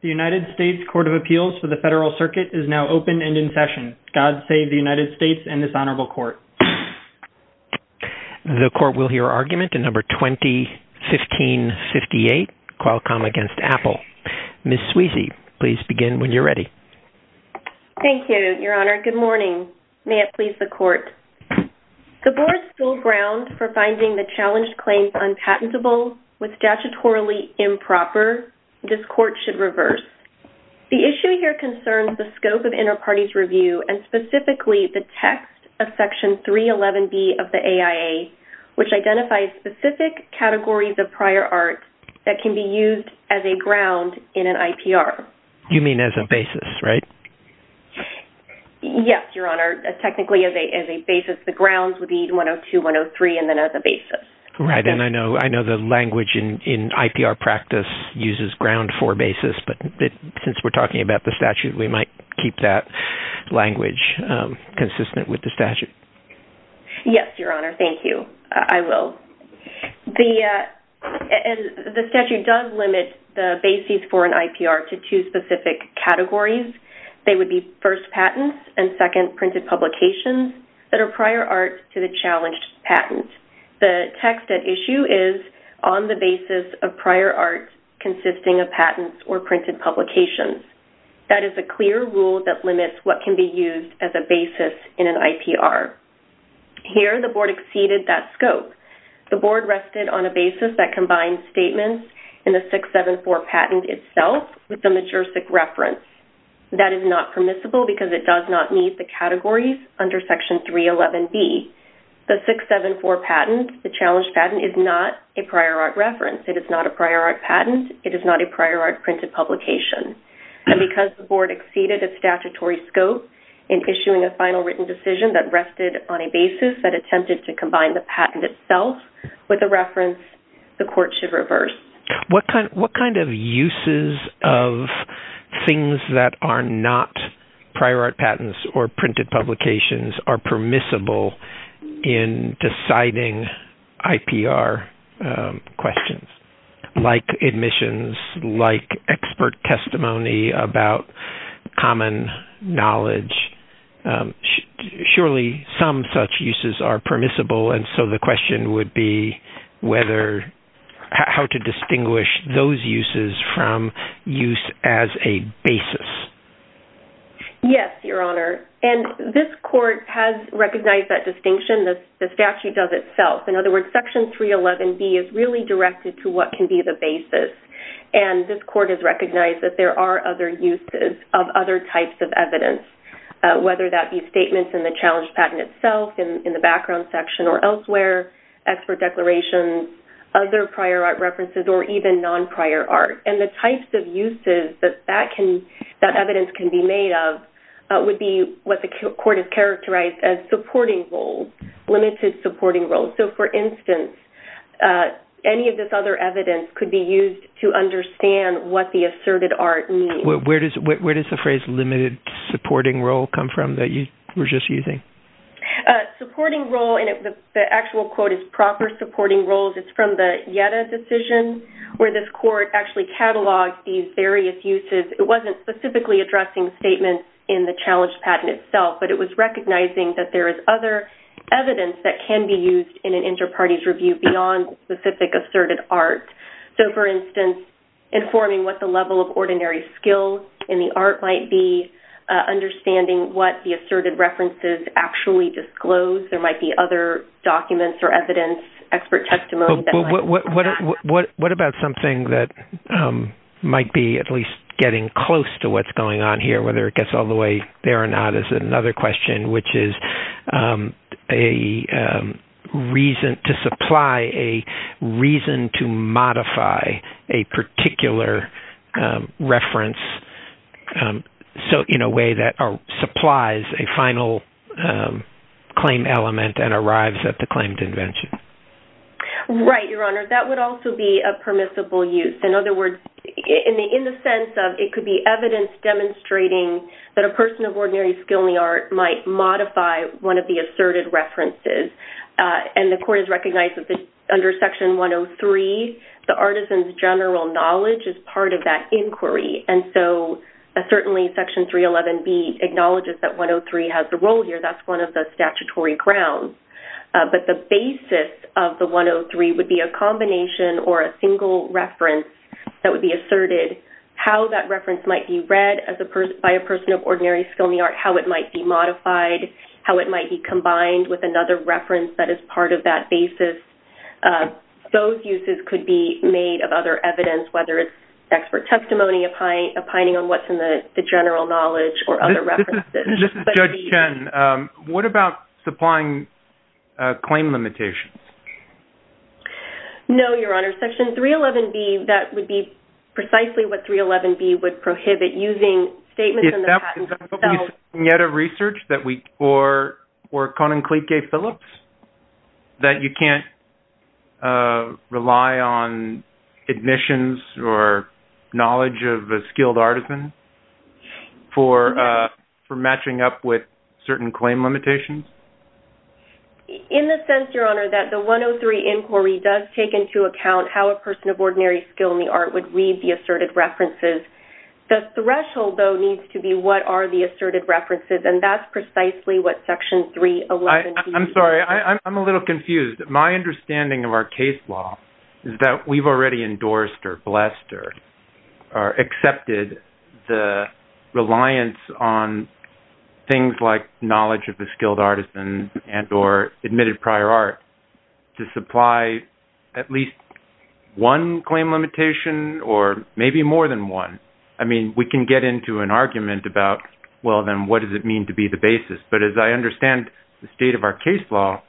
The United States Court of Appeals for the Federal Circuit is now open and in session. God save the United States and this honorable court. The court will hear argument in number 2015-58 Qualcomm v. Apple. Ms. Sweezy, please begin when you're ready. Thank you, Your Honor. Good morning. May it please the court. The board's still ground for finding the challenged claims unpatentable with statutorily improper. This court should reverse. The issue here concerns the scope of inter-parties review and specifically the text of section 311 B of the AIA which identifies specific categories of prior art that can be used as a ground in an IPR. You mean as a basis, right? Yes, Your Honor. Technically as a basis. The grounds would be 102, 103 and then as a basis. Right. I know the language in IPR practice uses ground for basis but since we're talking about the statute we might keep that language consistent with the statute. Yes, Your Honor. Thank you. I will. The statute does limit the basis for an IPR to two specific categories. They would be first patents and second printed publications that are prior art to the challenged patent. The text that the issue is on the basis of prior art consisting of patents or printed publications. That is a clear rule that limits what can be used as a basis in an IPR. Here the board exceeded that scope. The board rested on a basis that combined statements in the 674 patent itself with the majorsic reference. That is not permissible because it does not meet the categories under section 311 B. The 674 patent, the challenged patent, is not a prior art reference. It is not a prior art patent. It is not a prior art printed publication. And because the board exceeded a statutory scope in issuing a final written decision that rested on a basis that attempted to combine the patent itself with a reference, the court should reverse. What kind of uses of things that are not prior art patents or printed publications are permissible in deciding IPR questions? Like admissions, like expert testimony about common knowledge. Surely some such uses are permissible and so the question would be whether how to Yes, Your Honor. And this court has recognized that distinction. The statute does itself. In other words, section 311 B is really directed to what can be the basis. And this court has recognized that there are other uses of other types of evidence. Whether that be statements in the challenged patent itself, in the background section or elsewhere, expert declarations, other prior art references or even non-prior art. And the types of uses that that evidence can be made of would be what the court has characterized as supporting roles, limited supporting roles. So for instance, any of this other evidence could be used to understand what the asserted art means. Where does the phrase limited supporting role come from that you were just using? Supporting role, and the actual quote is proper supporting roles. It's from the Yetta decision where this court actually cataloged these various uses. It wasn't specifically addressing statements in the challenged patent itself, but it was recognizing that there is other evidence that can be used in an inter-parties review beyond specific asserted art. So for instance, informing what the level of ordinary skill in the art might be, understanding what the asserted references actually disclose. There might be other documents or evidence, expert testimony. What about something that might be at least getting close to what's going on here, whether it gets all the way there or not, is another question, which is a reason to supply a reason to modify a particular reference. So in a way that our supplies a final claim element and arrives at the claimed invention. Right, Your Honor, that would also be a permissible use. In other words, in the sense of it could be evidence demonstrating that a person of ordinary skill in the art might modify one of the asserted references. And the court has recognized that under section 103, the artisan's general knowledge is part of that inquiry. And so certainly section 311B acknowledges that 103 has a role here. That's one of the statutory grounds. But the basis of the 103 would be a combination or a single reference that would be asserted, how that reference might be read by a person of ordinary skill in the art, how it might be modified, how it might be combined with another reference that is part of that basis. Those uses could be made of other evidence, whether it's expert testimony opining on what's in the general knowledge or other references. This is Judge Chen. What about supplying claim limitations? No, Your Honor. Section 311B, that would be precisely what 311B would prohibit, using statements in the patent itself. Is that what we see in the research that we, or Conan Clique Phillips, that you can't rely on admissions or knowledge of a patent for matching up with certain claim limitations? In a sense, Your Honor, that the 103 inquiry does take into account how a person of ordinary skill in the art would read the asserted references. The threshold, though, needs to be what are the asserted references. And that's precisely what section 311B... I'm sorry, I'm a little confused. My understanding of our case law is that we've already endorsed or blessed or accepted the reliance on things like knowledge of a skilled artisan and or admitted prior art to supply at least one claim limitation or maybe more than one. I mean, we can get into an argument about, well, then what does it mean to be the basis? But as I understand the state of our case law,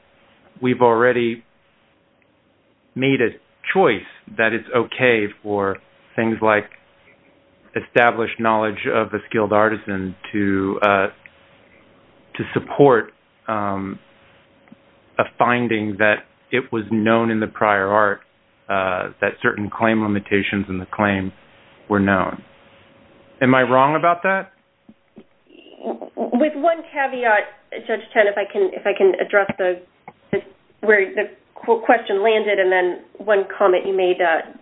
we've already made a statement that it is okay for things like established knowledge of a skilled artisan to support a finding that it was known in the prior art, that certain claim limitations in the claim were known. Am I wrong about that? With one caveat, Judge Chen, if I can address where the question landed and then one comment you made as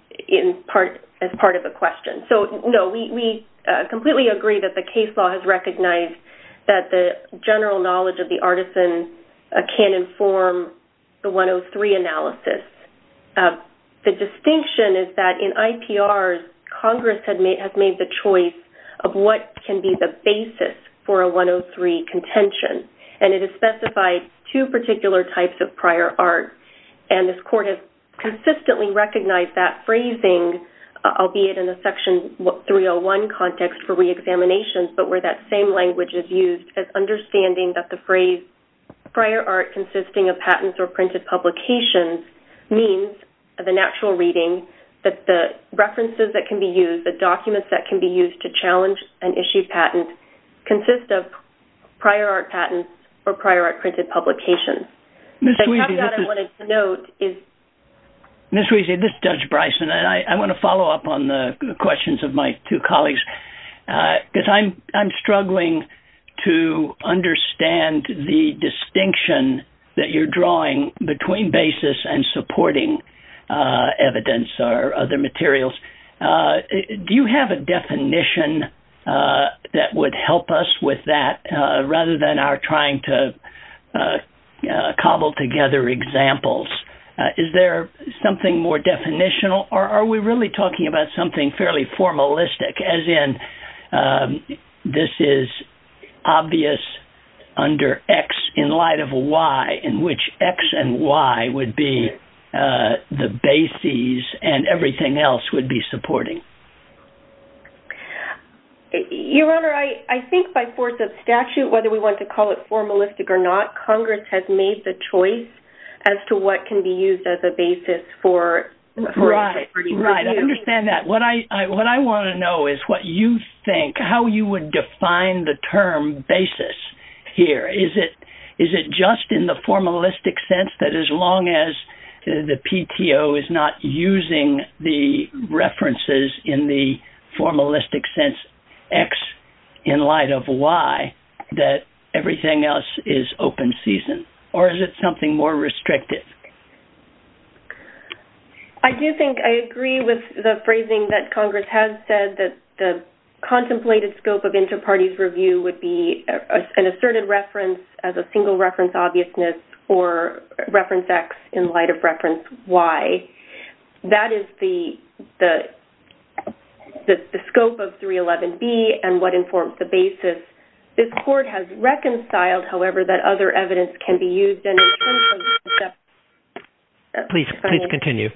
part of the question. So, no, we completely agree that the case law has recognized that the general knowledge of the artisan can inform the 103 analysis. The distinction is that in IPRs, Congress has made the choice of what can be the basis for a 103 contention. And it has specified two particular types of prior art. And this court has consistently recognized that phrasing, albeit in a Section 301 context for reexamination, but where that same language is used as understanding that the phrase prior art consisting of patents or printed publications means the natural reading that the references that can be used, the documents that can be used to challenge an issued patent consist of prior art patents or prior art printed publications. Ms. Weezy, this is Judge Bryson, and I want to follow up on the questions of my two colleagues, because I'm struggling to understand the distinction that you're drawing between basis and supporting evidence or other materials. Do you have a definition that would help us with that, rather than our trying to cobble together examples? Is there something more definitional, or are we really talking about something fairly formalistic, as in this is obvious under X in light of Y, in which X and Y would be the basis, and everything else would be the supporting evidence? Your Honor, I think by force of statute, whether we want to call it formalistic or not, Congress has made the choice as to what can be used as a basis for reporting. Right, I understand that. What I want to know is what you think, how you would define the term basis here. Is it just in the formalistic sense that as long as the PTO is not using the references in the formalistic sense, X in light of Y, that everything else is open season? Or is it something more restrictive? I do think I agree with the phrasing that Congress has said, that the contemplated scope of inter-parties review would be an asserted reference as a single reference obviousness, or reference X in light of reference Y. That is the scope of 311B and what informs the basis. This Court has reconciled, however, that other evidence can be used. Please continue.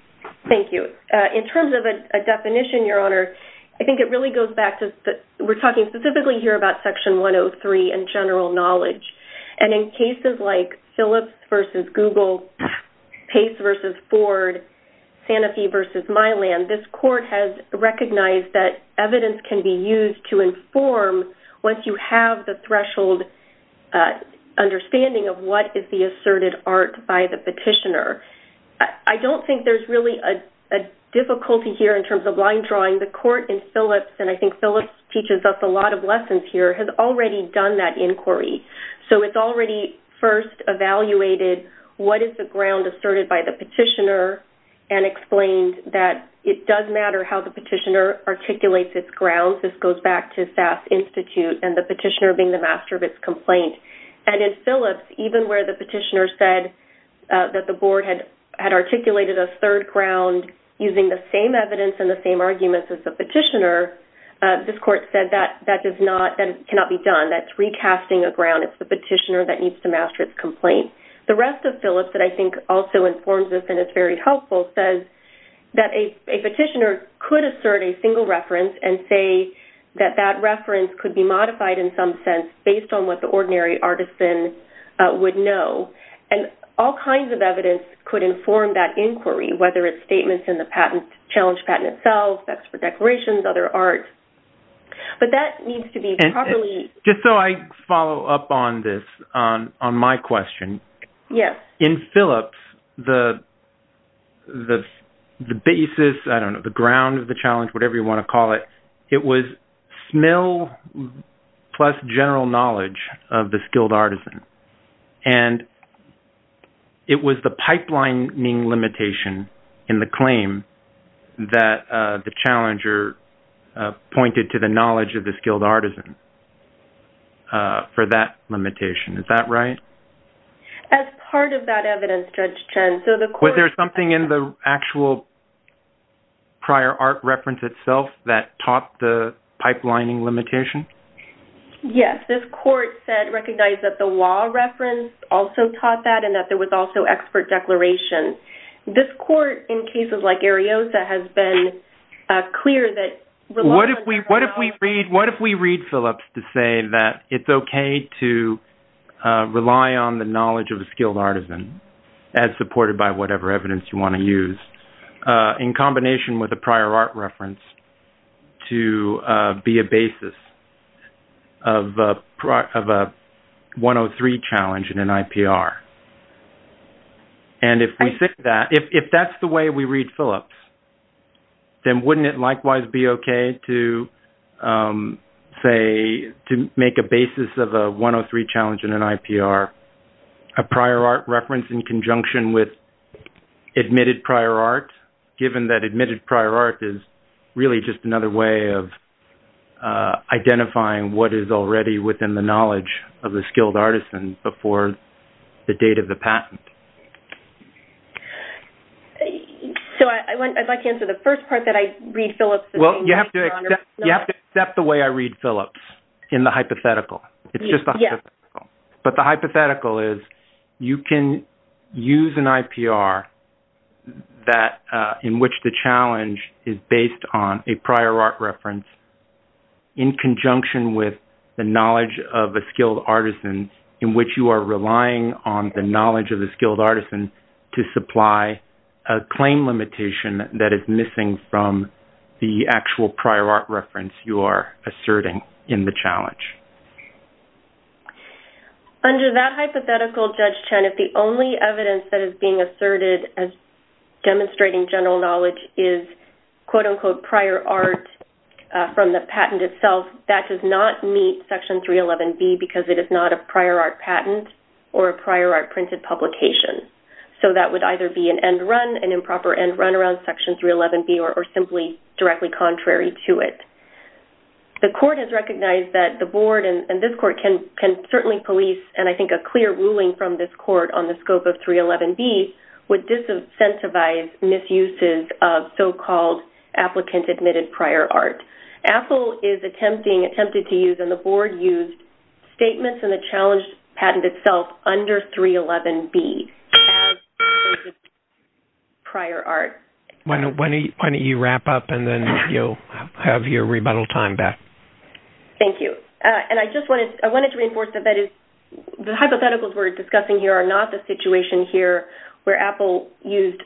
Thank you. In terms of a definition, Your Honor, I think it really goes back to, we're talking specifically here about Section 103 and general knowledge. And in cases like Phillips v. Google, Pace v. Ford, Sanofi v. Milan, this Court has recognized that evidence can be used to inform once you have the threshold understanding of what is the asserted art by the petitioner. I don't think there's really a difficulty here in terms of line drawing. The Court in Phillips, and I think Phillips teaches us a lot of lessons here, has already done that inquiry. So it's already first evaluated what is the ground asserted by the petitioner and explained that it does matter how the petitioner articulates its grounds. The analysis goes back to SAS Institute and the petitioner being the master of its complaint. And in Phillips, even where the petitioner said that the Board had articulated a third ground using the same evidence and the same arguments as the petitioner, this Court said that cannot be done. That's recasting a ground. It's the petitioner that needs to master its complaint. The rest of Phillips, that I think also informs this and is very helpful, says that a petitioner could assert a single reference and say that that reference could be modified in some sense based on what the ordinary artisan would know. And all kinds of evidence could inform that inquiry, whether it's statements in the challenge patent itself, specs for declarations, other art. But that needs to be properly... Just so I follow up on this, on my question. Yes. In Phillips, the basis, I don't know, the ground of the challenge, whatever you want to call it, it was smell plus general knowledge of the skilled artisan. And it was the pipelining limitation in the claim that the challenger pointed to the knowledge of the skilled artisan for that limitation. Is that right? As part of that evidence, Judge Chen... Was there something in the actual prior art reference itself that topped the pipelining limitation? Yes. This court said, recognized that the law reference also taught that and that there was also expert declaration. This court, in cases like Ariosa, has been clear that... ...of a 103 challenge in an IPR. And if we think that, if that's the way we read Phillips, then wouldn't it likewise be okay to say, to make a basis of a 103 challenge in an IPR, a prior art reference in conjunction with admitted prior art? Given that admitted prior art is really just another way of identifying what is already within the knowledge of the skilled artisan before the date of the patent. So I'd like to answer the first part that I read Phillips... Well, you have to accept the way I read Phillips in the hypothetical. It's just the hypothetical. But the hypothetical is, you can use an IPR in which the challenge is based on a prior art reference in conjunction with the knowledge of a skilled artisan in which you are relying on the knowledge of the skilled artisan to supply a claim limitation that is missing from the actual prior art reference you are asserting in the challenge. Under that hypothetical, Judge Chen, if the only evidence that is being asserted as demonstrating general knowledge is, quote-unquote, prior art from the patent itself, that does not meet Section 311B because it is not a prior art patent or a prior art printed publication. So that would either be an end run, an improper end run around Section 311B, or simply directly contrary to it. The court has recognized that the board and this court can certainly police, and I think a clear ruling from this court on the scope of 311B would disincentivize misuses of so-called applicant-admitted prior art. AFL is attempted to use, and the board used, statements in the challenge patent itself under 311B. Prior art. Why don't you wrap up, and then you'll have your rebuttal time back. Thank you. And I just wanted to reinforce that the hypotheticals we're discussing here are not the situation here where Apple used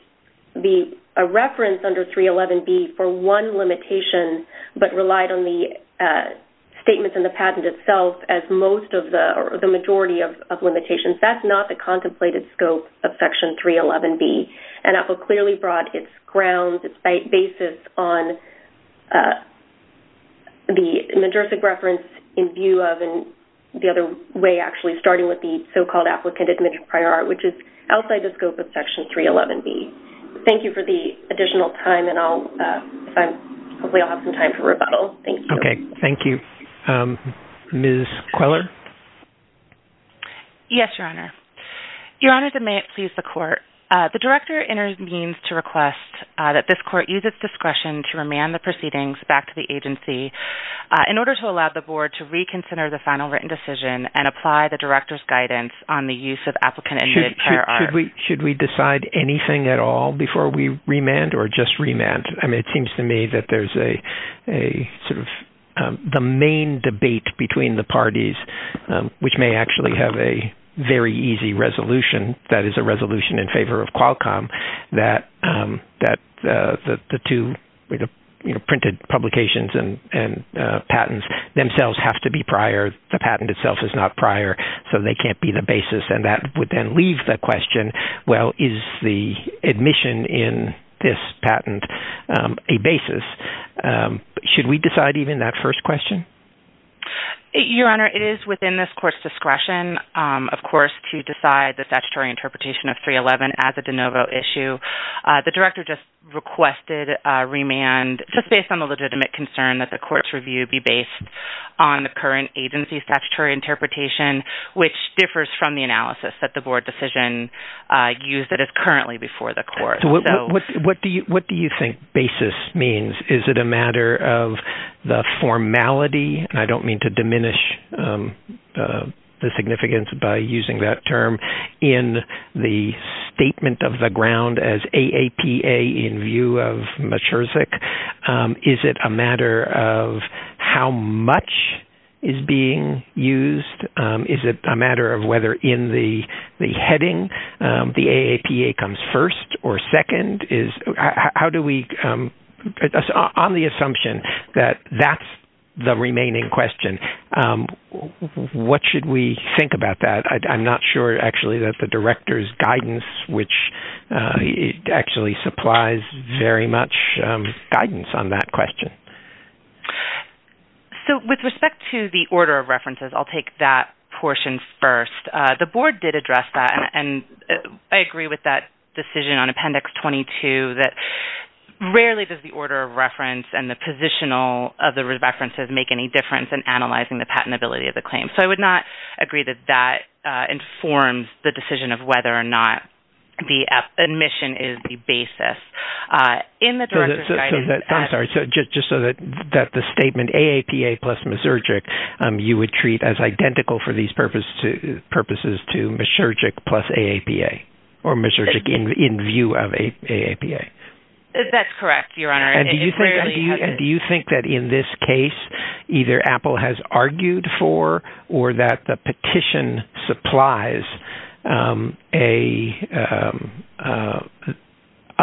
a reference under 311B for one limitation, but relied on the statements in the patent itself as most of the majority of limitations. That's not the contemplated scope of Section 311B. And Apple clearly brought its grounds, its basis on the majorific reference in view of the other way, actually, starting with the so-called applicant-admitted prior art, which is outside the scope of Section 311B. Thank you for the additional time, and hopefully I'll have some time for rebuttal. Thank you. Okay. Thank you. Ms. Queller? Yes, Your Honor. Your Honor, may it please the Court, the Director intervenes to request that this Court use its discretion to remand the proceedings back to the agency in order to allow the Board to reconsider the final written decision and apply the Director's guidance on the use of applicant-admitted prior art. Should we decide anything at all before we remand or just remand? I mean, it seems to me that there's a sort of the main debate between the parties, which may actually have a very easy resolution, that is a resolution in favor of Qualcomm, that the two printed publications and patents themselves have to be prior. The patent itself is not prior, so they can't be the basis, and that would then leave the question, well, is the admission in this patent a basis? Should we decide even that first question? Your Honor, it is within this Court's discretion, of course, to decide the statutory interpretation of 311 as a de novo issue. The Director just requested a remand just based on the legitimate concern that the Court's review be based on the current agency's statutory interpretation, which differs from the analysis that the Board decision used that is currently before the Court. So what do you think basis means? Is it a matter of the formality? I don't mean to diminish the significance by using that term in the statement of the ground as AAPA in view of Maturzyk. Is it a matter of how much is being used? Is it a matter of whether in the heading the AAPA comes first or second? On the assumption that that's the remaining question, what should we think about that? I'm not sure, actually, that the Director's guidance actually supplies very much guidance on that question. With respect to the order of references, I'll take that portion first. The Board did address that, and I agree with that decision on Appendix 22 that rarely does the order of reference and the positional of the references make any difference in analyzing the patentability of the claim. So I would not agree that that informs the decision of whether or not the admission is the basis in the Director's guidance. I'm sorry. Just so that the statement AAPA plus Maturzyk you would treat as identical for these purposes to Maturzyk plus AAPA or Maturzyk in view of AAPA? That's correct, Your Honor. Do you think that in this case either Apple has argued for or that the petition supplies a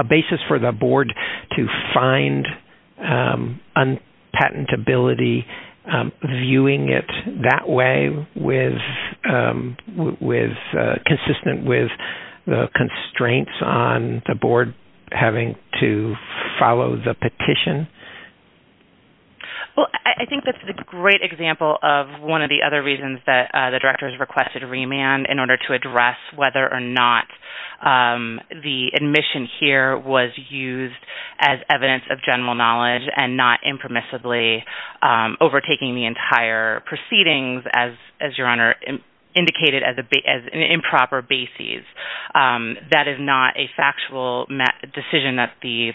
basis for the Board to find unpatentability, or are we viewing it that way, consistent with the constraints on the Board having to follow the petition? Well, I think that's a great example of one of the other reasons that the Director has requested remand in order to address whether or not the admission here was used as evidence of general knowledge and not impermissibly overtaking the entire proceedings, as Your Honor indicated, as an improper basis. That is not a factual decision that the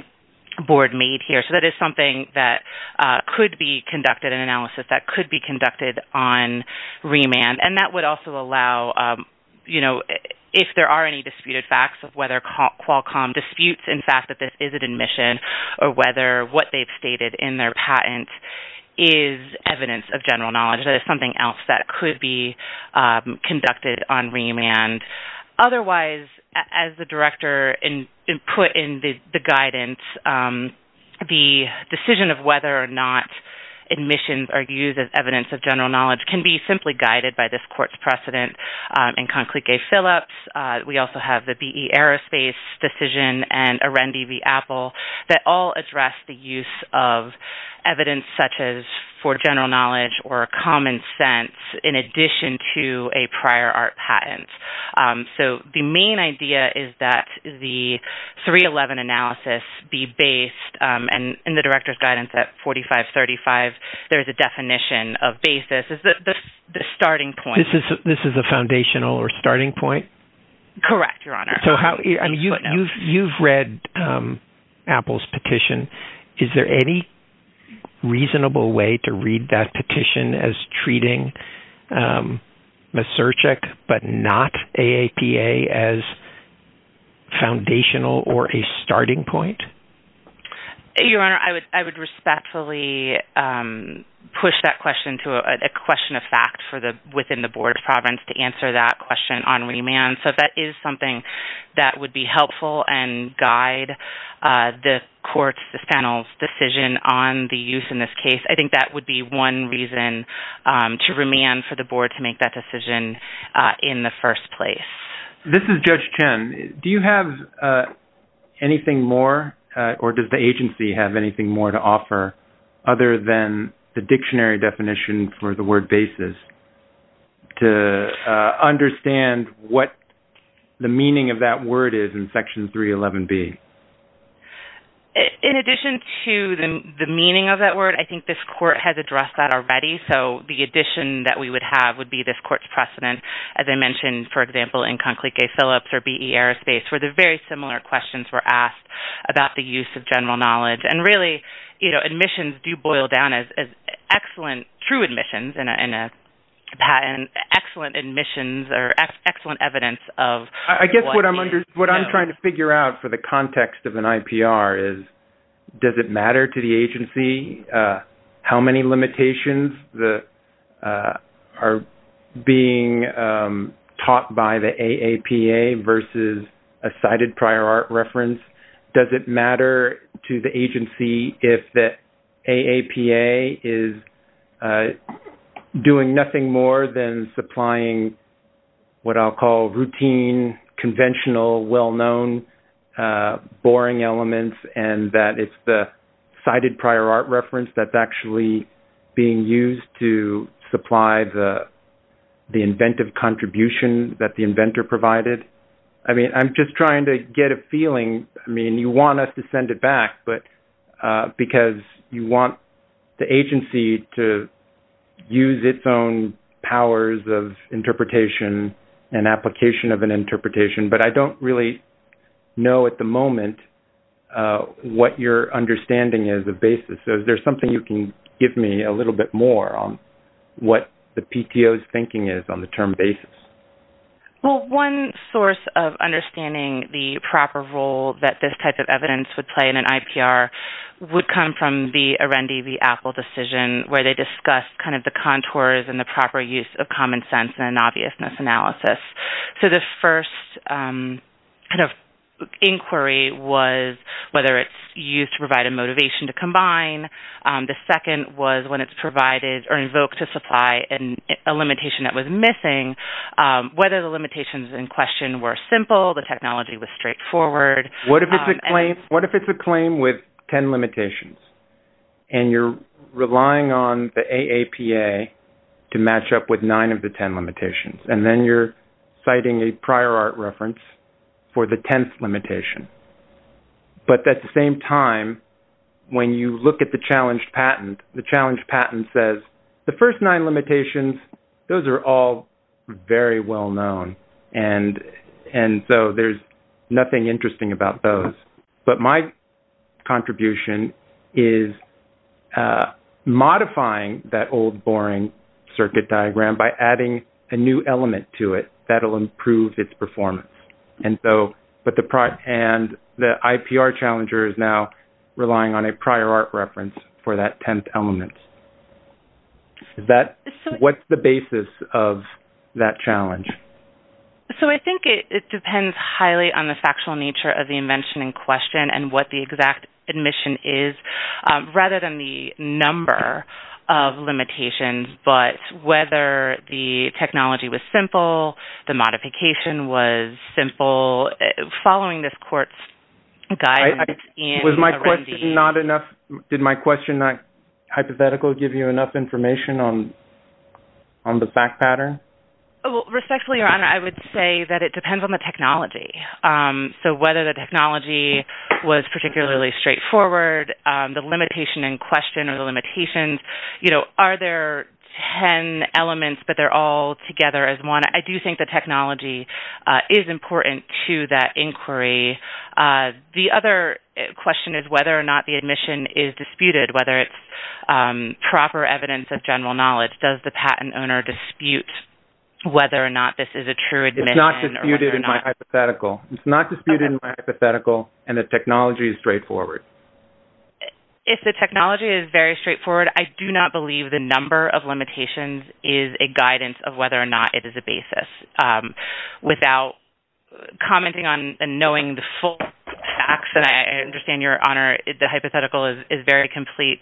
Board made here. So that is something that could be conducted, an analysis that could be conducted on remand. And that would also allow, you know, if there are any disputed facts of whether Qualcomm disputes, in fact, that this is an admission or whether what they've stated in their patent is evidence of general knowledge, that is something else that could be conducted on remand. Otherwise, as the Director put in the guidance, the decision of whether or not admissions are used as evidence of general knowledge can be simply guided by this Court's precedent in Conclique Phillips. We also have the BE Aerospace decision and Arendi v. Apple that all address the use of evidence such as for general knowledge or common sense in addition to a prior art patent. So the main idea is that the 311 analysis be based, and in the Director's guidance at 4535, there is a definition of basis as the starting point. This is a foundational or starting point? Correct, Your Honor. You've read Apple's petition. Is there any reasonable way to read that petition as treating Maserchik but not AAPA as foundational or a starting point? Your Honor, I would respectfully push that question to a question of fact within the Board of Providence to answer that question on remand. So if that is something that would be helpful and guide the Court's, the panel's decision on the use in this case, I think that would be one reason to remand for the Board to make that decision in the first place. This is Judge Chen. Do you have anything more or does the agency have anything more to offer other than the dictionary definition for the word basis to understand what the meaning of that word is in Section 311B? In addition to the meaning of that word, I think this Court has addressed that already. So the addition that we would have would be this Court's precedent, as I mentioned, for example, in Conclique A Phillips or BE Aerospace, where the very similar questions were asked about the use of general knowledge. And really, you know, admissions do boil down as excellent, true admissions in a patent, excellent admissions or excellent evidence of what you know. So the question to figure out for the context of an IPR is, does it matter to the agency how many limitations are being taught by the AAPA versus a cited prior art reference? Does it matter to the agency if the AAPA is doing nothing more than supplying what I'll call routine, conventional, well-known, boring elements and that it's the cited prior art reference that's actually being used to supply the inventive contribution that the inventor provided? I mean, I'm just trying to get a feeling. I mean, you want us to send it back because you want the agency to use its own powers of interpretation and application of an interpretation. But I don't really know at the moment what your understanding is of basis. So is there something you can give me a little bit more on what the PTO's thinking is on the term basis? Well, one source of understanding the proper role that this type of evidence would play in an IPR would come from the Arendi v. Apple decision where they discussed kind of the contours and the proper use of common sense and obviousness analysis. So the first kind of inquiry was whether it's used to provide a motivation to combine. The second was when it's provided or invoked to supply a limitation that was missing, whether the limitations in question were simple, the technology was straightforward. What if it's a claim with ten limitations and you're relying on the AAPA to match up with nine of the ten limitations? And then you're citing a prior art reference for the tenth limitation. But at the same time, when you look at the challenged patent, the challenged patent says the first nine limitations, those are all very well known. And so there's nothing interesting about those. But my contribution is modifying that old boring circuit diagram by adding a new element to it that will improve its performance. And the IPR challenger is now relying on a prior art reference for that tenth element. What's the basis of that challenge? So I think it depends highly on the factual nature of the invention in question and what the exact admission is rather than the number of limitations. But whether the technology was simple, the modification was simple, following this court's guidance. Was my question not enough? Did my question not hypothetically give you enough information on the fact pattern? Respectfully, Your Honor, I would say that it depends on the technology. So whether the technology was particularly straightforward, the limitation in question or the limitations, are there ten elements but they're all together as one? I do think the technology is important to that inquiry. The other question is whether or not the admission is disputed, whether it's proper evidence of general knowledge. Does the patent owner dispute whether or not this is a true admission? It's not disputed in my hypothetical. It's not disputed in my hypothetical, and the technology is straightforward. If the technology is very straightforward, I do not believe the number of limitations is a guidance of whether or not it is a basis. Without commenting on and knowing the full facts, and I understand, Your Honor, the hypothetical is very complete.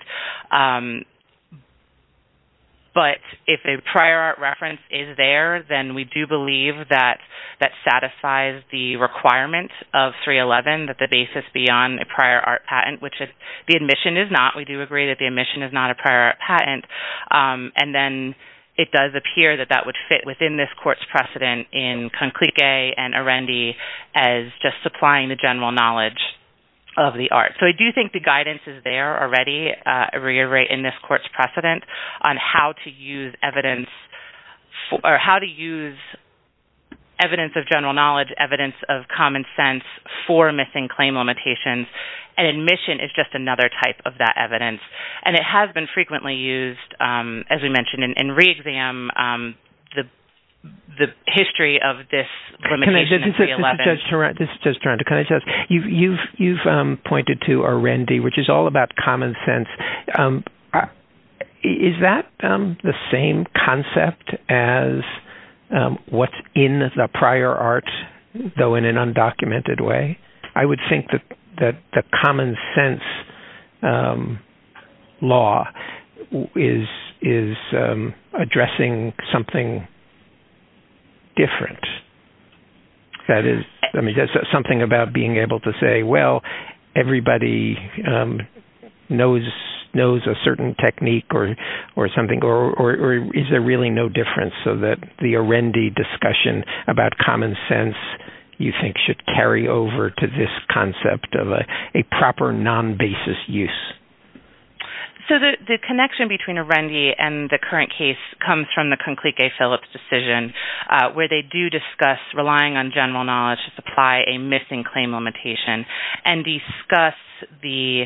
But if a prior art reference is there, then we do believe that that satisfies the requirement of 311, that the basis be on a prior art patent, which the admission is not. We do agree that the admission is not a prior art patent, and then it does appear that that would fit within this court's precedent in Conclique and Arendi as just supplying the general knowledge of the art. So I do think the guidance is there already in this court's precedent on how to use evidence of general knowledge, evidence of common sense for missing claim limitations, and admission is just another type of that evidence. And it has been frequently used, as we mentioned, in re-exam the history of this limitation in 311. This is Judge Taranto. You've pointed to Arendi, which is all about common sense. Is that the same concept as what's in the prior art, though in an undocumented way? I would think that the common sense law is addressing something different. That is something about being able to say, well, everybody knows a certain technique or something, or is there really no difference so that the Arendi discussion about common sense, you think, should carry over to this concept of a proper non-basis use? So the connection between Arendi and the current case comes from the Conclique Phillips decision, where they do discuss relying on general knowledge to supply a missing claim limitation and discuss the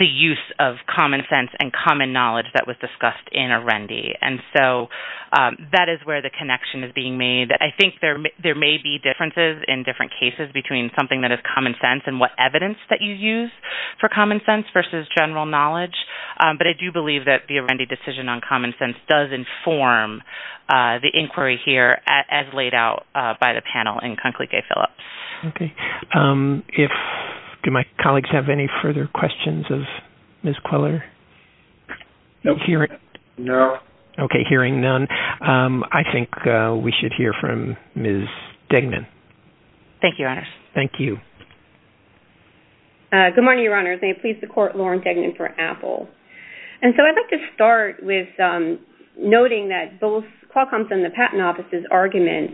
use of common sense and common knowledge that was discussed in Arendi. And so that is where the connection is being made. I think there may be differences in different cases between something that is common sense and what evidence that you use for common sense versus general knowledge. But I do believe that the Arendi decision on common sense does inform the inquiry here as laid out by the panel in Conclique Phillips. Okay. Do my colleagues have any further questions of Ms. Queller? No. Okay. Hearing none, I think we should hear from Ms. Degnan. Thank you, Your Honor. Thank you. Good morning, Your Honor. May it please the Court, Lauren Degnan for Apple. And so I'd like to start with noting that both Qualcomm's and the Patent Office's argument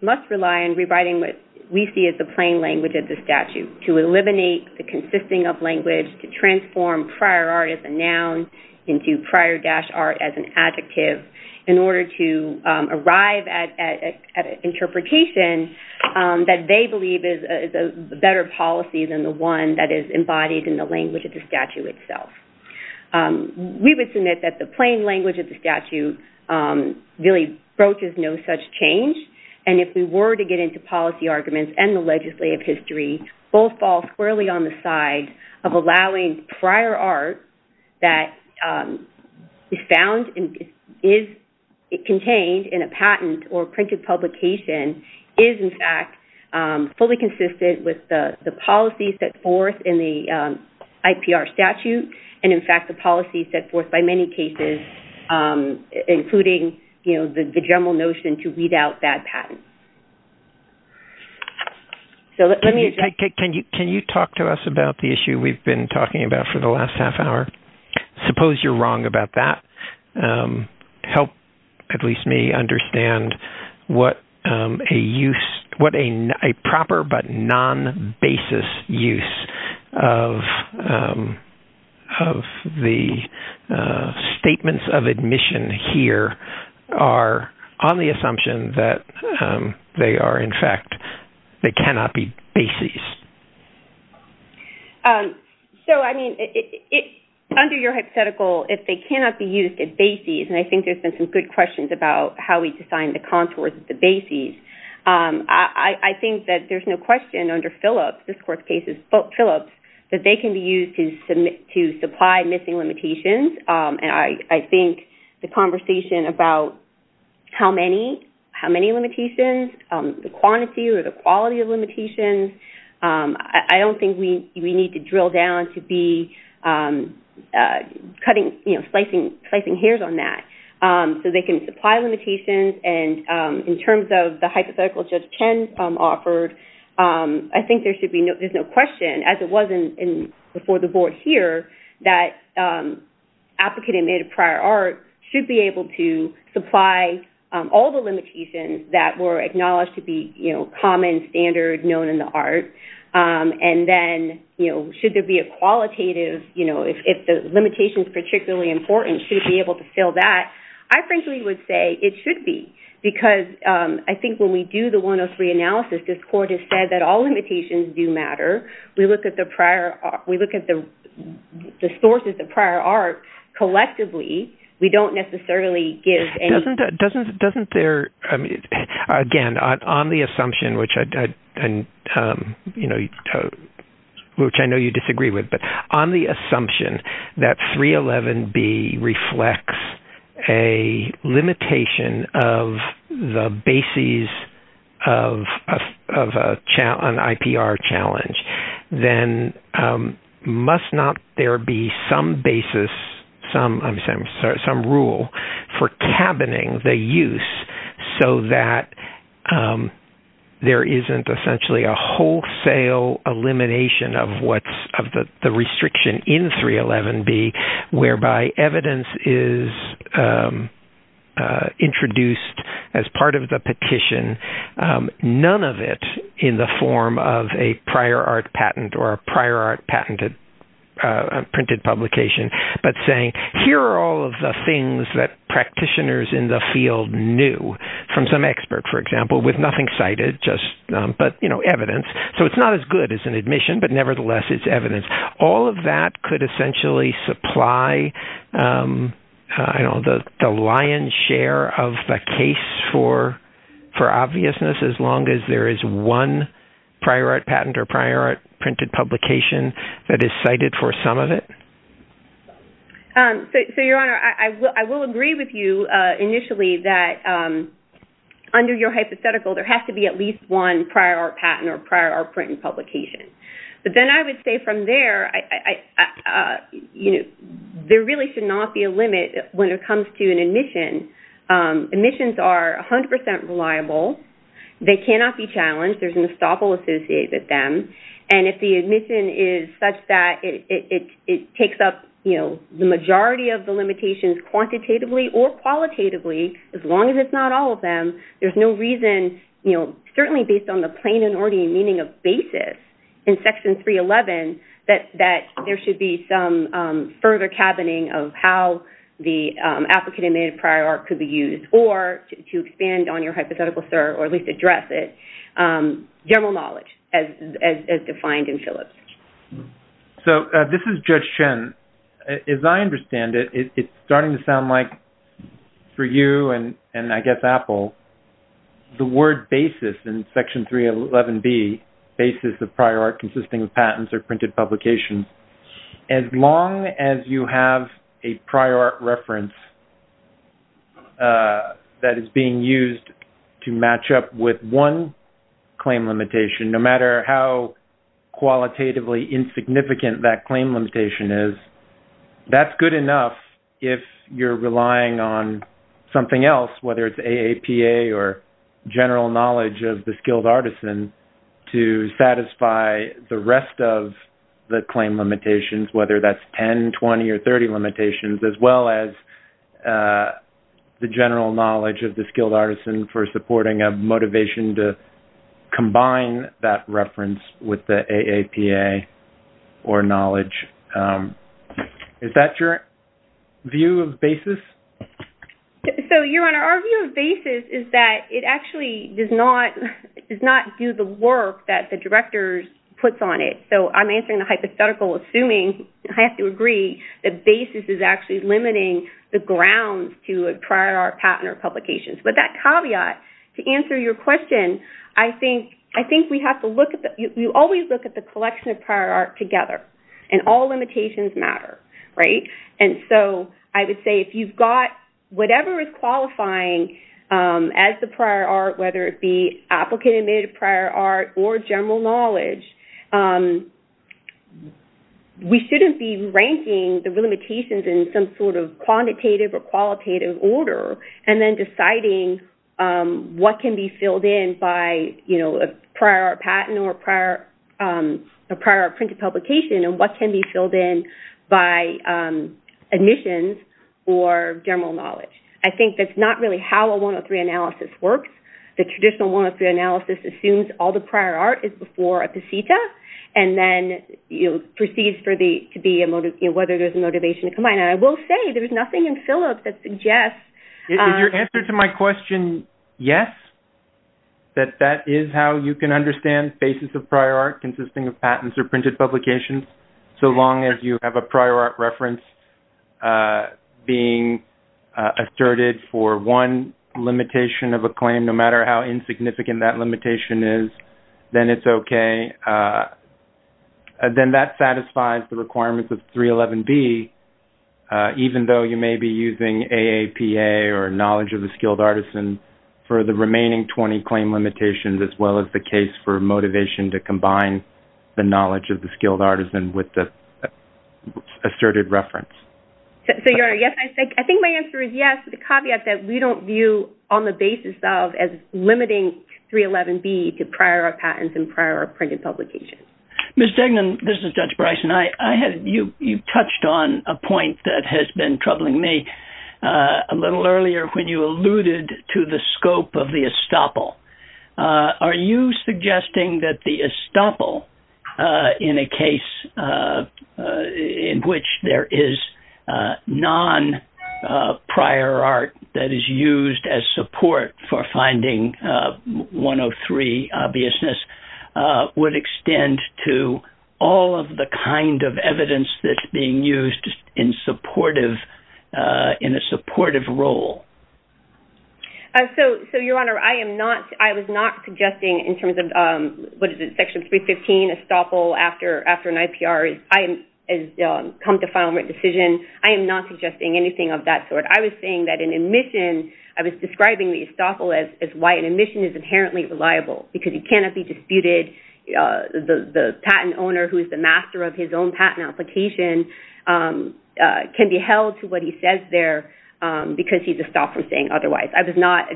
must rely on rewriting what we see as the plain language of the statute to eliminate the consisting of language, to transform prior art as a noun into prior-art as an adjective in order to arrive at an interpretation that they believe is a better policy than the one that is embodied in the language of the statute itself. We would submit that the plain language of the statute really broaches no such change. And if we were to get into policy arguments and the legislative history, both fall squarely on the side of allowing prior art that is contained in a patent or printed publication is, in fact, fully consistent with the policies set forth in the IPR statute and, in fact, the policies set forth by many cases, including the general notion to weed out bad patents. Can you talk to us about the issue we've been talking about for the last half hour? Suppose you're wrong about that. Help, at least me, understand what a proper but non-basis use of the statements of admission here are on the assumption that they are, in fact, they cannot be bases. So, I mean, under your hypothetical, if they cannot be used as bases, and I think there's been some good questions about how we design the contours of the bases, I think that there's no question under Phillips, this court's case is Phillips, that they can be used to supply missing limitations. And I think the conversation about how many limitations, the quantity or the quality of limitations, I don't think we need to drill down to be slicing hairs on that. So they can supply limitations, and in terms of the hypothetical Judge Chen offered, I think there's no question, as it was before the board here, that applicant admitted prior art should be able to supply all the limitations that were acknowledged to be common, standard, known in the art. And then, you know, should there be a qualitative, you know, if the limitation is particularly important, should it be able to fill that? I frankly would say it should be, because I think when we do the 103 analysis, this court has said that all limitations do matter. We look at the sources of prior art collectively. We don't necessarily give any... for cabining the use, so that there isn't essentially a wholesale elimination of the restriction in 311B, whereby evidence is introduced as part of the petition, none of it in the form of a prior art patent or a prior art printed publication, but saying, here are all of the things that practitioners in the field knew from some expert, for example, with nothing cited, just, you know, evidence. So it's not as good as an admission, but nevertheless it's evidence. All of that could essentially supply, you know, the lion's share of the case for obviousness, as long as there is one prior art patent or prior art printed publication that is cited for some of it. So, Your Honor, I will agree with you initially that under your hypothetical, there has to be at least one prior art patent or prior art printed publication. But then I would say from there, you know, there really should not be a limit when it comes to an admission. Admissions are 100% reliable. They cannot be challenged. There's an estoppel associated with them. And if the admission is such that it takes up, you know, the majority of the limitations quantitatively or qualitatively, as long as it's not all of them, there's no reason, you know, certainly based on the plain and ordinary meaning of basis in Section 311, that there should be some further cabining of how the applicant admitted prior art could be used or to expand on your hypothetical, sir, or at least address it, general knowledge as defined in Phillips. So this is Judge Chen. As I understand it, it's starting to sound like for you and I guess Apple, the word basis in Section 311B, basis of prior art consisting of patents or printed publications, as long as you have a prior art reference that is being used to match up with one claim limitation, no matter how qualitatively insignificant that claim limitation is, that's good enough if you're relying on something else, whether it's AAPA or general knowledge of the skilled artisan to satisfy the rest of the claim limitations, whether that's 10, 20, or 30 limitations, as well as the general knowledge of the skilled artisan for supporting a motivation to combine that reference with the AAPA or knowledge. Is that your view of basis? So, Your Honor, our view of basis is that it actually does not do the work that the director puts on it. So I'm answering the hypothetical assuming, I have to agree, that basis is actually limiting the grounds to a prior art patent or publication. But that caveat, to answer your question, I think we have to look at, you always look at the collection of prior art together, and all limitations matter, right? And so I would say if you've got whatever is qualifying as the prior art, whether it be applicant-admitted prior art or general knowledge, we shouldn't be ranking the limitations in some sort of quantitative or qualitative order and then deciding what can be filled in by a prior art patent or prior art printed publication and what can be filled in by admissions or general knowledge. I think that's not really how a 103 analysis works. The traditional 103 analysis assumes all the prior art is before a PCETA and then proceeds to be whether there's a motivation to combine. And I will say there's nothing in Phillips that suggests... Is your answer to my question yes? That that is how you can understand basis of prior art consisting of patents or printed publications so long as you have a prior art reference being asserted for one limitation of a claim, no matter how insignificant that limitation is, then it's okay. Then that satisfies the requirements of 311B, even though you may be using AAPA or knowledge of a skilled artisan for the remaining 20 claim limitations as well as the case for motivation to combine the knowledge of the skilled artisan with the asserted reference. So, Your Honor, yes, I think my answer is yes. The caveat is that we don't view on the basis of limiting 311B to prior art patents and prior art printed publications. Ms. Degnan, this is Judge Bryson. You touched on a point that has been troubling me a little earlier when you alluded to the scope of the estoppel. Are you suggesting that the estoppel in a case in which there is non-prior art that is used as support for finding 103 obviousness would extend to all of the kind of evidence that's being used in a supportive role? So, Your Honor, I was not suggesting in terms of Section 315, estoppel after an IPR has come to final decision. I am not suggesting anything of that sort. I was saying that an admission, I was describing the estoppel as why an admission is inherently reliable because it cannot be disputed. The patent owner who is the master of his own patent application can be held to what he says there because he's estopped from saying otherwise. I was not—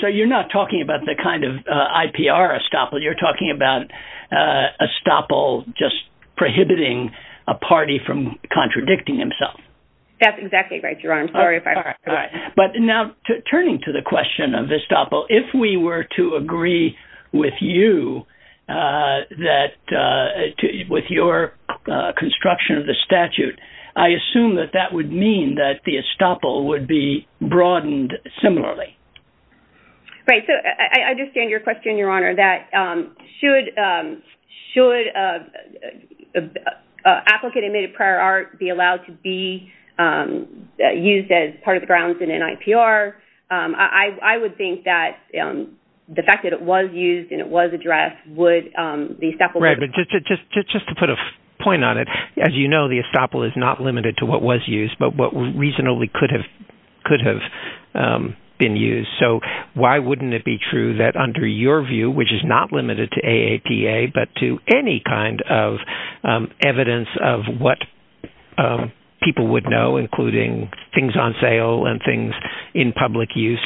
So, you're not talking about the kind of IPR estoppel. You're talking about estoppel just prohibiting a party from contradicting himself. That's exactly right, Your Honor. I'm sorry if I— All right. But now, turning to the question of estoppel, if we were to agree with you that with your construction of the statute, I assume that that would mean that the estoppel would be broadened similarly. Right. So, I understand your question, Your Honor, that should an applicant admitted prior art be allowed to be used as part of the grounds in an IPR. I would think that the fact that it was used and it was addressed would— Right, but just to put a point on it, as you know, the estoppel is not limited to what was used, but what reasonably could have been used. So, why wouldn't it be true that under your view, which is not limited to AAPA, but to any kind of evidence of what people would know, including things on sale and things in public use,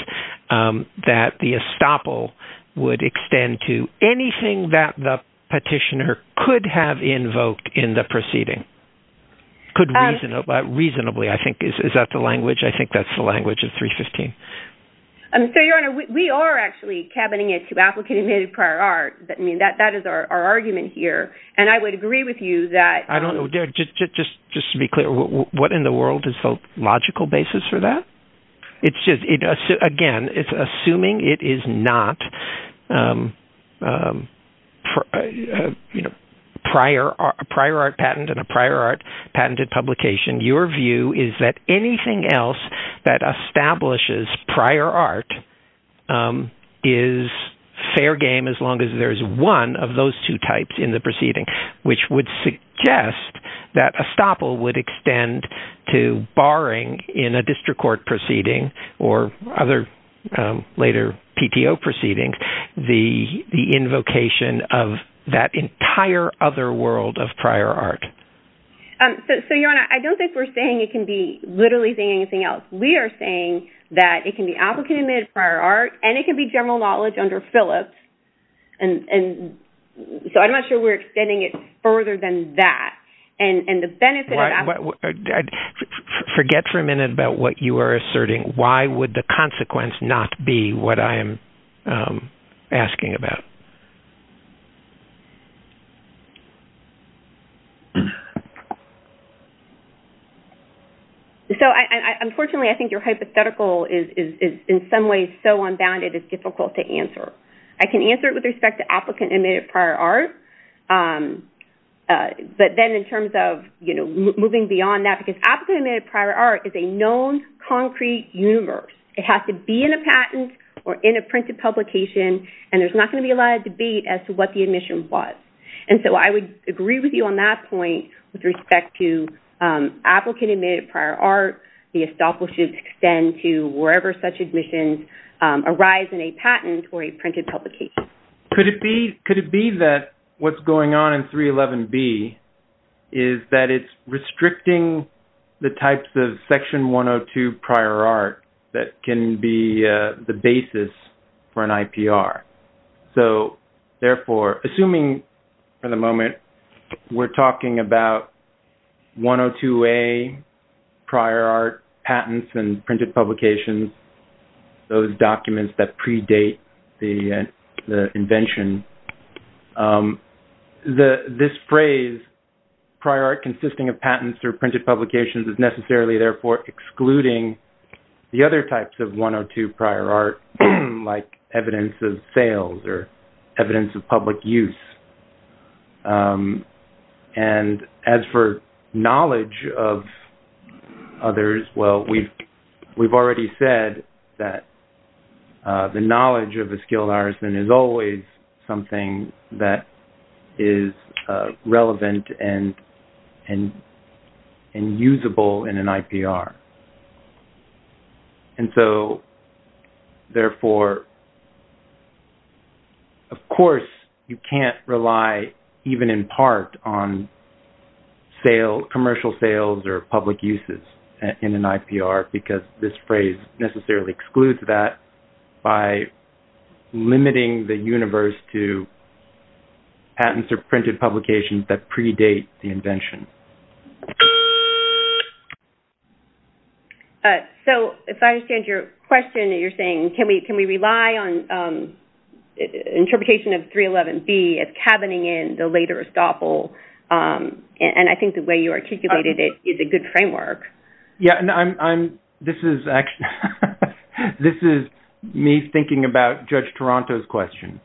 that the estoppel would extend to anything that the petitioner could have invoked in the proceeding? Could reasonably, I think. Is that the language? I think that's the language of 315. So, Your Honor, we are actually cabining it to applicant admitted prior art. I mean, that is our argument here, and I would agree with you that— Is there a logical basis for that? Again, assuming it is not a prior art patent and a prior art patented publication, your view is that anything else that establishes prior art is fair game as long as there is one of those two types in the proceeding, which would suggest that estoppel would extend to, barring in a district court proceeding or other later PTO proceedings, the invocation of that entire other world of prior art. So, Your Honor, I don't think we're saying it can be literally anything else. We are saying that it can be applicant admitted prior art, and it can be general knowledge under Phillips. So, I'm not sure we're extending it further than that, and the benefit of that— Forget for a minute about what you are asserting. Why would the consequence not be what I am asking about? So, unfortunately, I think your hypothetical is, in some ways, so unbounded, it's difficult to answer. I can answer it with respect to applicant admitted prior art, but then in terms of moving beyond that, because applicant admitted prior art is a known concrete universe. It has to be in a patent or in a printed publication, and there's not going to be a lot of debate as to what the admission was. And so I would agree with you on that point with respect to applicant admitted prior art. The estoppel should extend to wherever such admissions arise in a patent or a printed publication. Could it be that what's going on in 311B is that it's restricting the types of Section 102 prior art that can be the basis for an IPR? So, therefore, assuming for the moment we're talking about 102A prior art patents and printed publications, those documents that predate the invention, this phrase, prior art consisting of patents or printed publications, is necessarily, therefore, excluding the other types of 102 prior art, like evidence of sales or evidence of public use. And as for knowledge of others, well, we've already said that the knowledge of a skilled artisan is always something that is relevant and usable in an IPR. And so, therefore, of course, you can't rely even in part on commercial sales or public uses in an IPR because this phrase necessarily excludes that by limiting the universe to patents or printed publications that predate the invention. So, if I understand your question, you're saying, can we rely on interpretation of 311B as cabining in the later estoppel? And I think the way you articulated it is a good framework. This is me thinking about Judge Toronto's question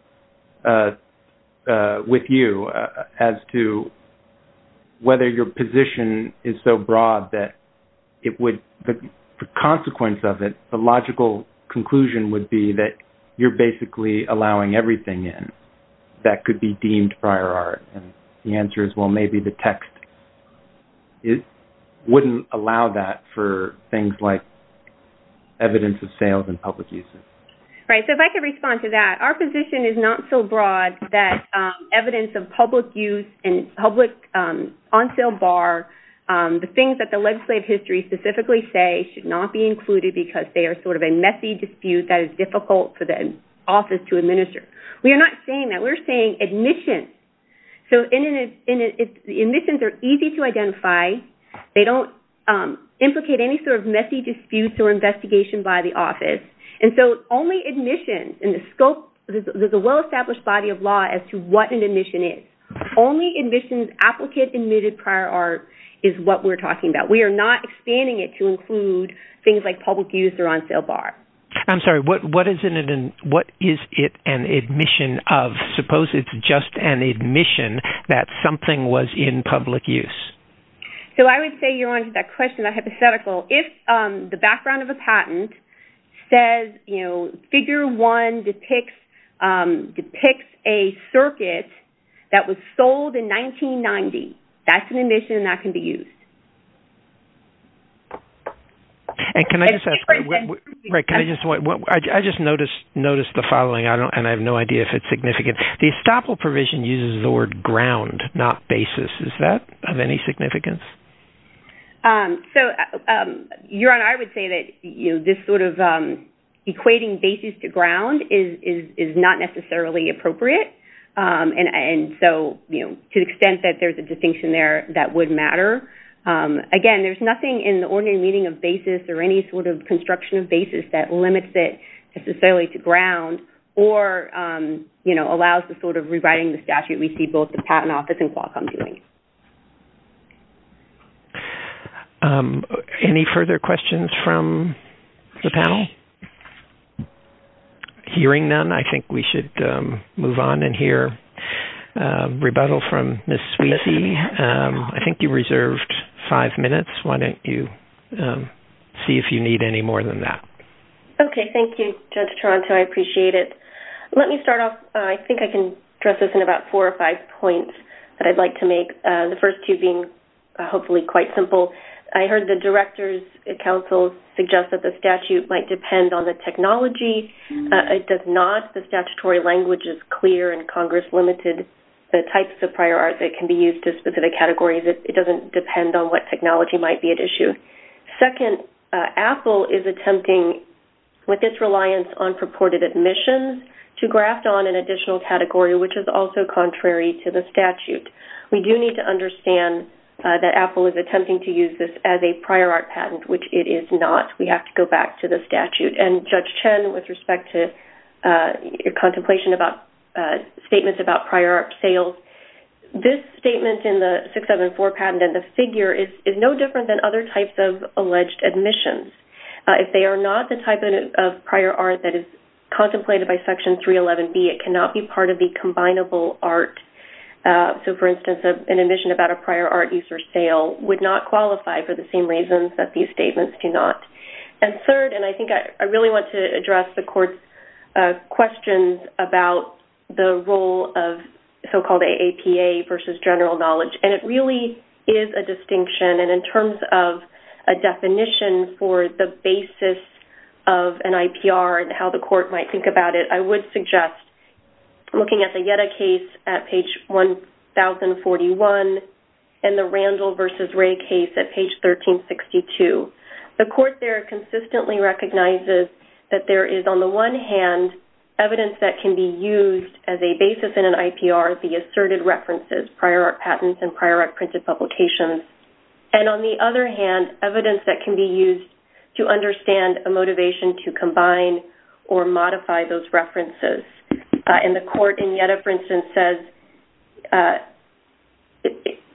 with you as to whether your position is so broad that the consequence of it, the logical conclusion would be that you're basically allowing everything in that could be deemed prior art. And the answer is, well, maybe the text wouldn't allow that for things like evidence of sales and public uses. Right. So, if I could respond to that, our position is not so broad that evidence of public use and public on sale bar, the things that the legislative history specifically say should not be included because they are sort of a messy dispute that is difficult for the office to administer. We are not saying that. We're saying admissions. So, the admissions are easy to identify. They don't implicate any sort of messy disputes or investigation by the office. And so, only admissions in the scope, there's a well-established body of law as to what an admission is. Only admissions, applicant admitted prior art is what we're talking about. We are not expanding it to include things like public use or on sale bar. I'm sorry. What is it an admission of? Suppose it's just an admission that something was in public use. So, I would say you're on to that question, that hypothetical. If the background of a patent says, you know, figure one depicts a circuit that was sold in 1990, that's an admission that can be used. And can I just ask, I just noticed the following, and I have no idea if it's significant. The estoppel provision uses the word ground, not basis. Is that of any significance? So, Jaron, I would say that this sort of equating basis to ground is not necessarily appropriate. And so, you know, to the extent that there's a distinction there, that would matter. Again, there's nothing in the ordinary meaning of basis or any sort of construction of basis that limits it necessarily to ground or, you know, allows the sort of rewriting the statute we see both the patent office and Qualcomm doing. Any further questions from the panel? Hearing none, I think we should move on and hear rebuttal from Ms. Sweezy. I think you reserved five minutes. Why don't you see if you need any more than that? Okay. Thank you, Judge Toronto. I appreciate it. Let me start off, I think I can address this in about four or five points that I'd like to make, the first two being hopefully quite simple. I heard the Director's Council suggest that the statute might depend on the technology. It does not. The statutory language is clear and Congress limited the types of prior art that can be used to specific categories. It doesn't depend on what technology might be at issue. Second, Apple is attempting, with its reliance on purported admissions, to graft on an additional category, which is also contrary to the statute. We do need to understand that Apple is attempting to use this as a prior art patent, which it is not. We have to go back to the statute. And Judge Chen, with respect to your contemplation about statements about prior art sales, this statement in the 674 patent and the figure is no different than other types of alleged admissions. If they are not the type of prior art that is contemplated by Section 311B, it cannot be part of the combinable art. So, for instance, an admission about a prior art use or sale would not qualify for the same reasons that these statements do not. And third, and I think I really want to address the Court's questions about the role of so-called AAPA versus general knowledge. And it really is a distinction. And in terms of a definition for the basis of an IPR and how the Court might think about it, I would suggest looking at the Yetta case at page 1041 and the Randall versus Ray case at page 1362. The Court there consistently recognizes that there is, on the one hand, evidence that can be used as a basis in an IPR, the asserted references, prior art patents and prior art printed publications. And on the other hand, evidence that can be used to understand a motivation to combine or modify those references. And the Court in Yetta, for instance, says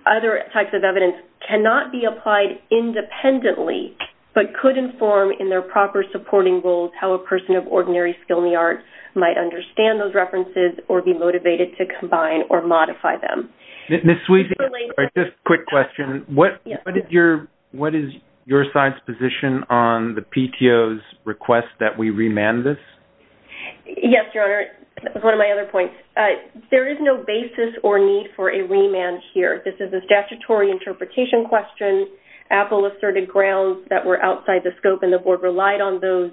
other types of evidence cannot be applied independently but could inform in their proper supporting roles how a person of ordinary skill in the arts might understand those references or be motivated to combine or modify them. Ms. Sweet, just a quick question. What is your side's position on the PTO's request that we remand this? Yes, Your Honor. That was one of my other points. There is no basis or need for a remand here. This is a statutory interpretation question. AAPA asserted grounds that were outside the scope, and the Board relied on those.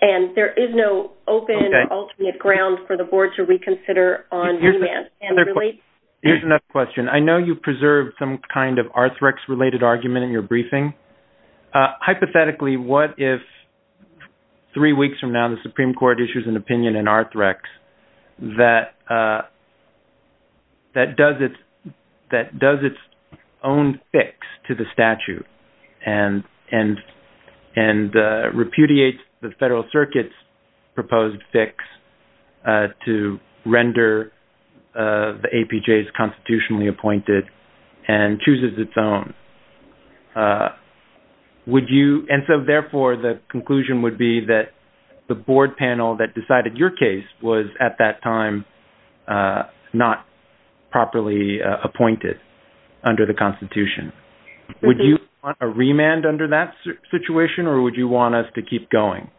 And there is no open alternate ground for the Board to reconsider on remand. Here's another question. I know you preserved some kind of Arthrex-related argument in your briefing. Hypothetically, what if three weeks from now the Supreme Court issues an opinion in Arthrex that does its own fix to the statute and repudiates the Federal Circuit's proposed fix to render the APJs constitutionally appointed and chooses its own? And so, therefore, the conclusion would be that the Board panel that decided your case was, at that time, not properly appointed under the Constitution. Would you want a remand under that situation, or would you want us to keep going?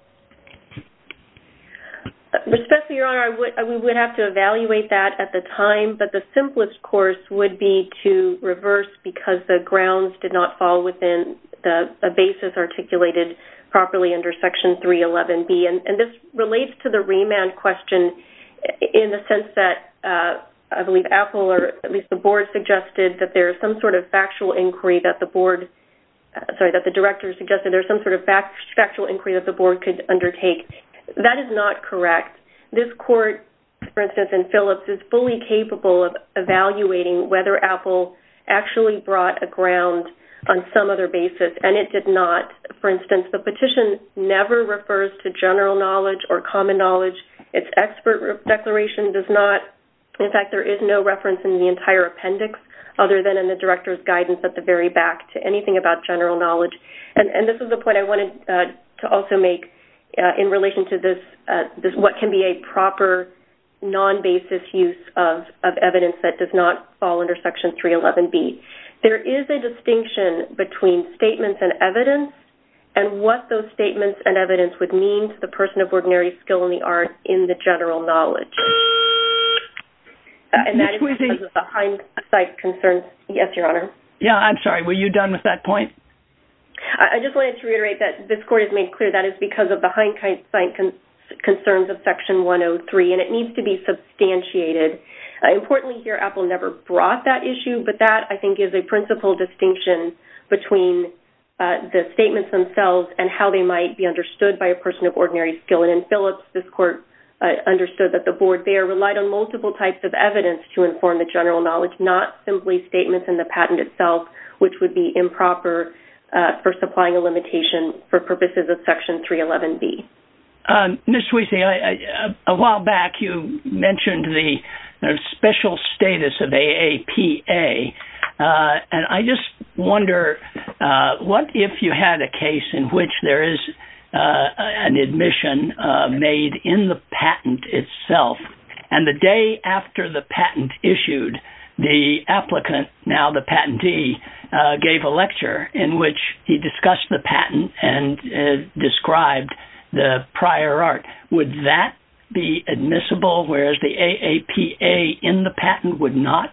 Respectfully, Your Honor, we would have to evaluate that at the time. But the simplest course would be to reverse because the grounds did not fall within the basis articulated properly under Section 311B. And this relates to the remand question in the sense that I believe Apple, or at least the Board, suggested that there is some sort of factual inquiry that the Board sorry, that the Director suggested there is some sort of factual inquiry that the Board could undertake. That is not correct. This Court, for instance, in Phillips, is fully capable of evaluating whether Apple actually brought a ground on some other basis, and it did not. For instance, the petition never refers to general knowledge or common knowledge. Its expert declaration does not. In fact, there is no reference in the entire appendix other than in the Director's guidance at the very back to anything about general knowledge. And this is the point I wanted to also make in relation to this, what can be a proper non-basis use of evidence that does not fall under Section 311B. There is a distinction between statements and evidence and what those statements and evidence would mean to the person of ordinary skill in the art in the general knowledge. And that is because of the hindsight concerns. Yes, Your Honor. Yeah, I'm sorry. Were you done with that point? I just wanted to reiterate that this Court has made clear that is because of the hindsight concerns of Section 103, and it needs to be substantiated. Importantly here, Apple never brought that issue, but that, I think, is a principal distinction between the statements themselves and how they might be understood by a person of ordinary skill. And in Phillips, this Court understood that the Board there relied on multiple types of evidence to inform the general knowledge, not simply statements in the patent itself, which would be improper for supplying a limitation for purposes of Section 311B. Ms. Tweedy, a while back you mentioned the special status of AAPA, and I just wonder what if you had a case in which there is an admission made in the patent itself, and the day after the patent issued, the applicant, now the patentee, gave a lecture in which he discussed the patent and described the prior art. Would that be admissible, whereas the AAPA in the patent would not?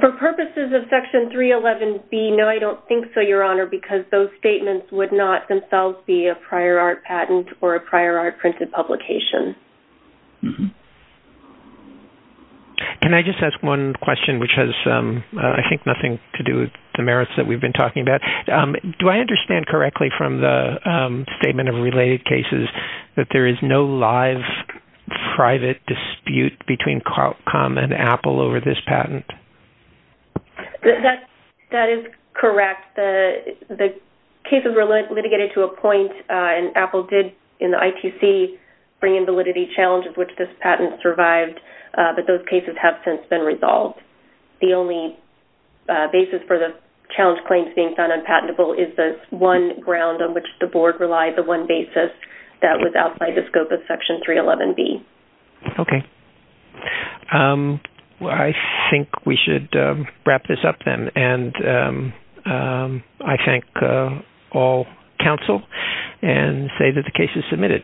For purposes of Section 311B, no, I don't think so, Your Honor, because those statements would not themselves be a prior art patent or a prior art printed publication. Can I just ask one question, which has, I think, nothing to do with the merits that we've been talking about? Do I understand correctly from the statement of related cases that there is no live, private dispute between Qualcomm and Apple over this patent? That is correct. The cases were litigated to a point, and Apple did, in the ITC, bring in validity challenges which this patent survived, but those cases have since been resolved. The only basis for the challenge claims being found unpatentable is the one ground on which the Board relied, the one basis that was outside the scope of Section 311B. Okay. I think we should wrap this up, then, and I thank all counsel and say that the case is submitted.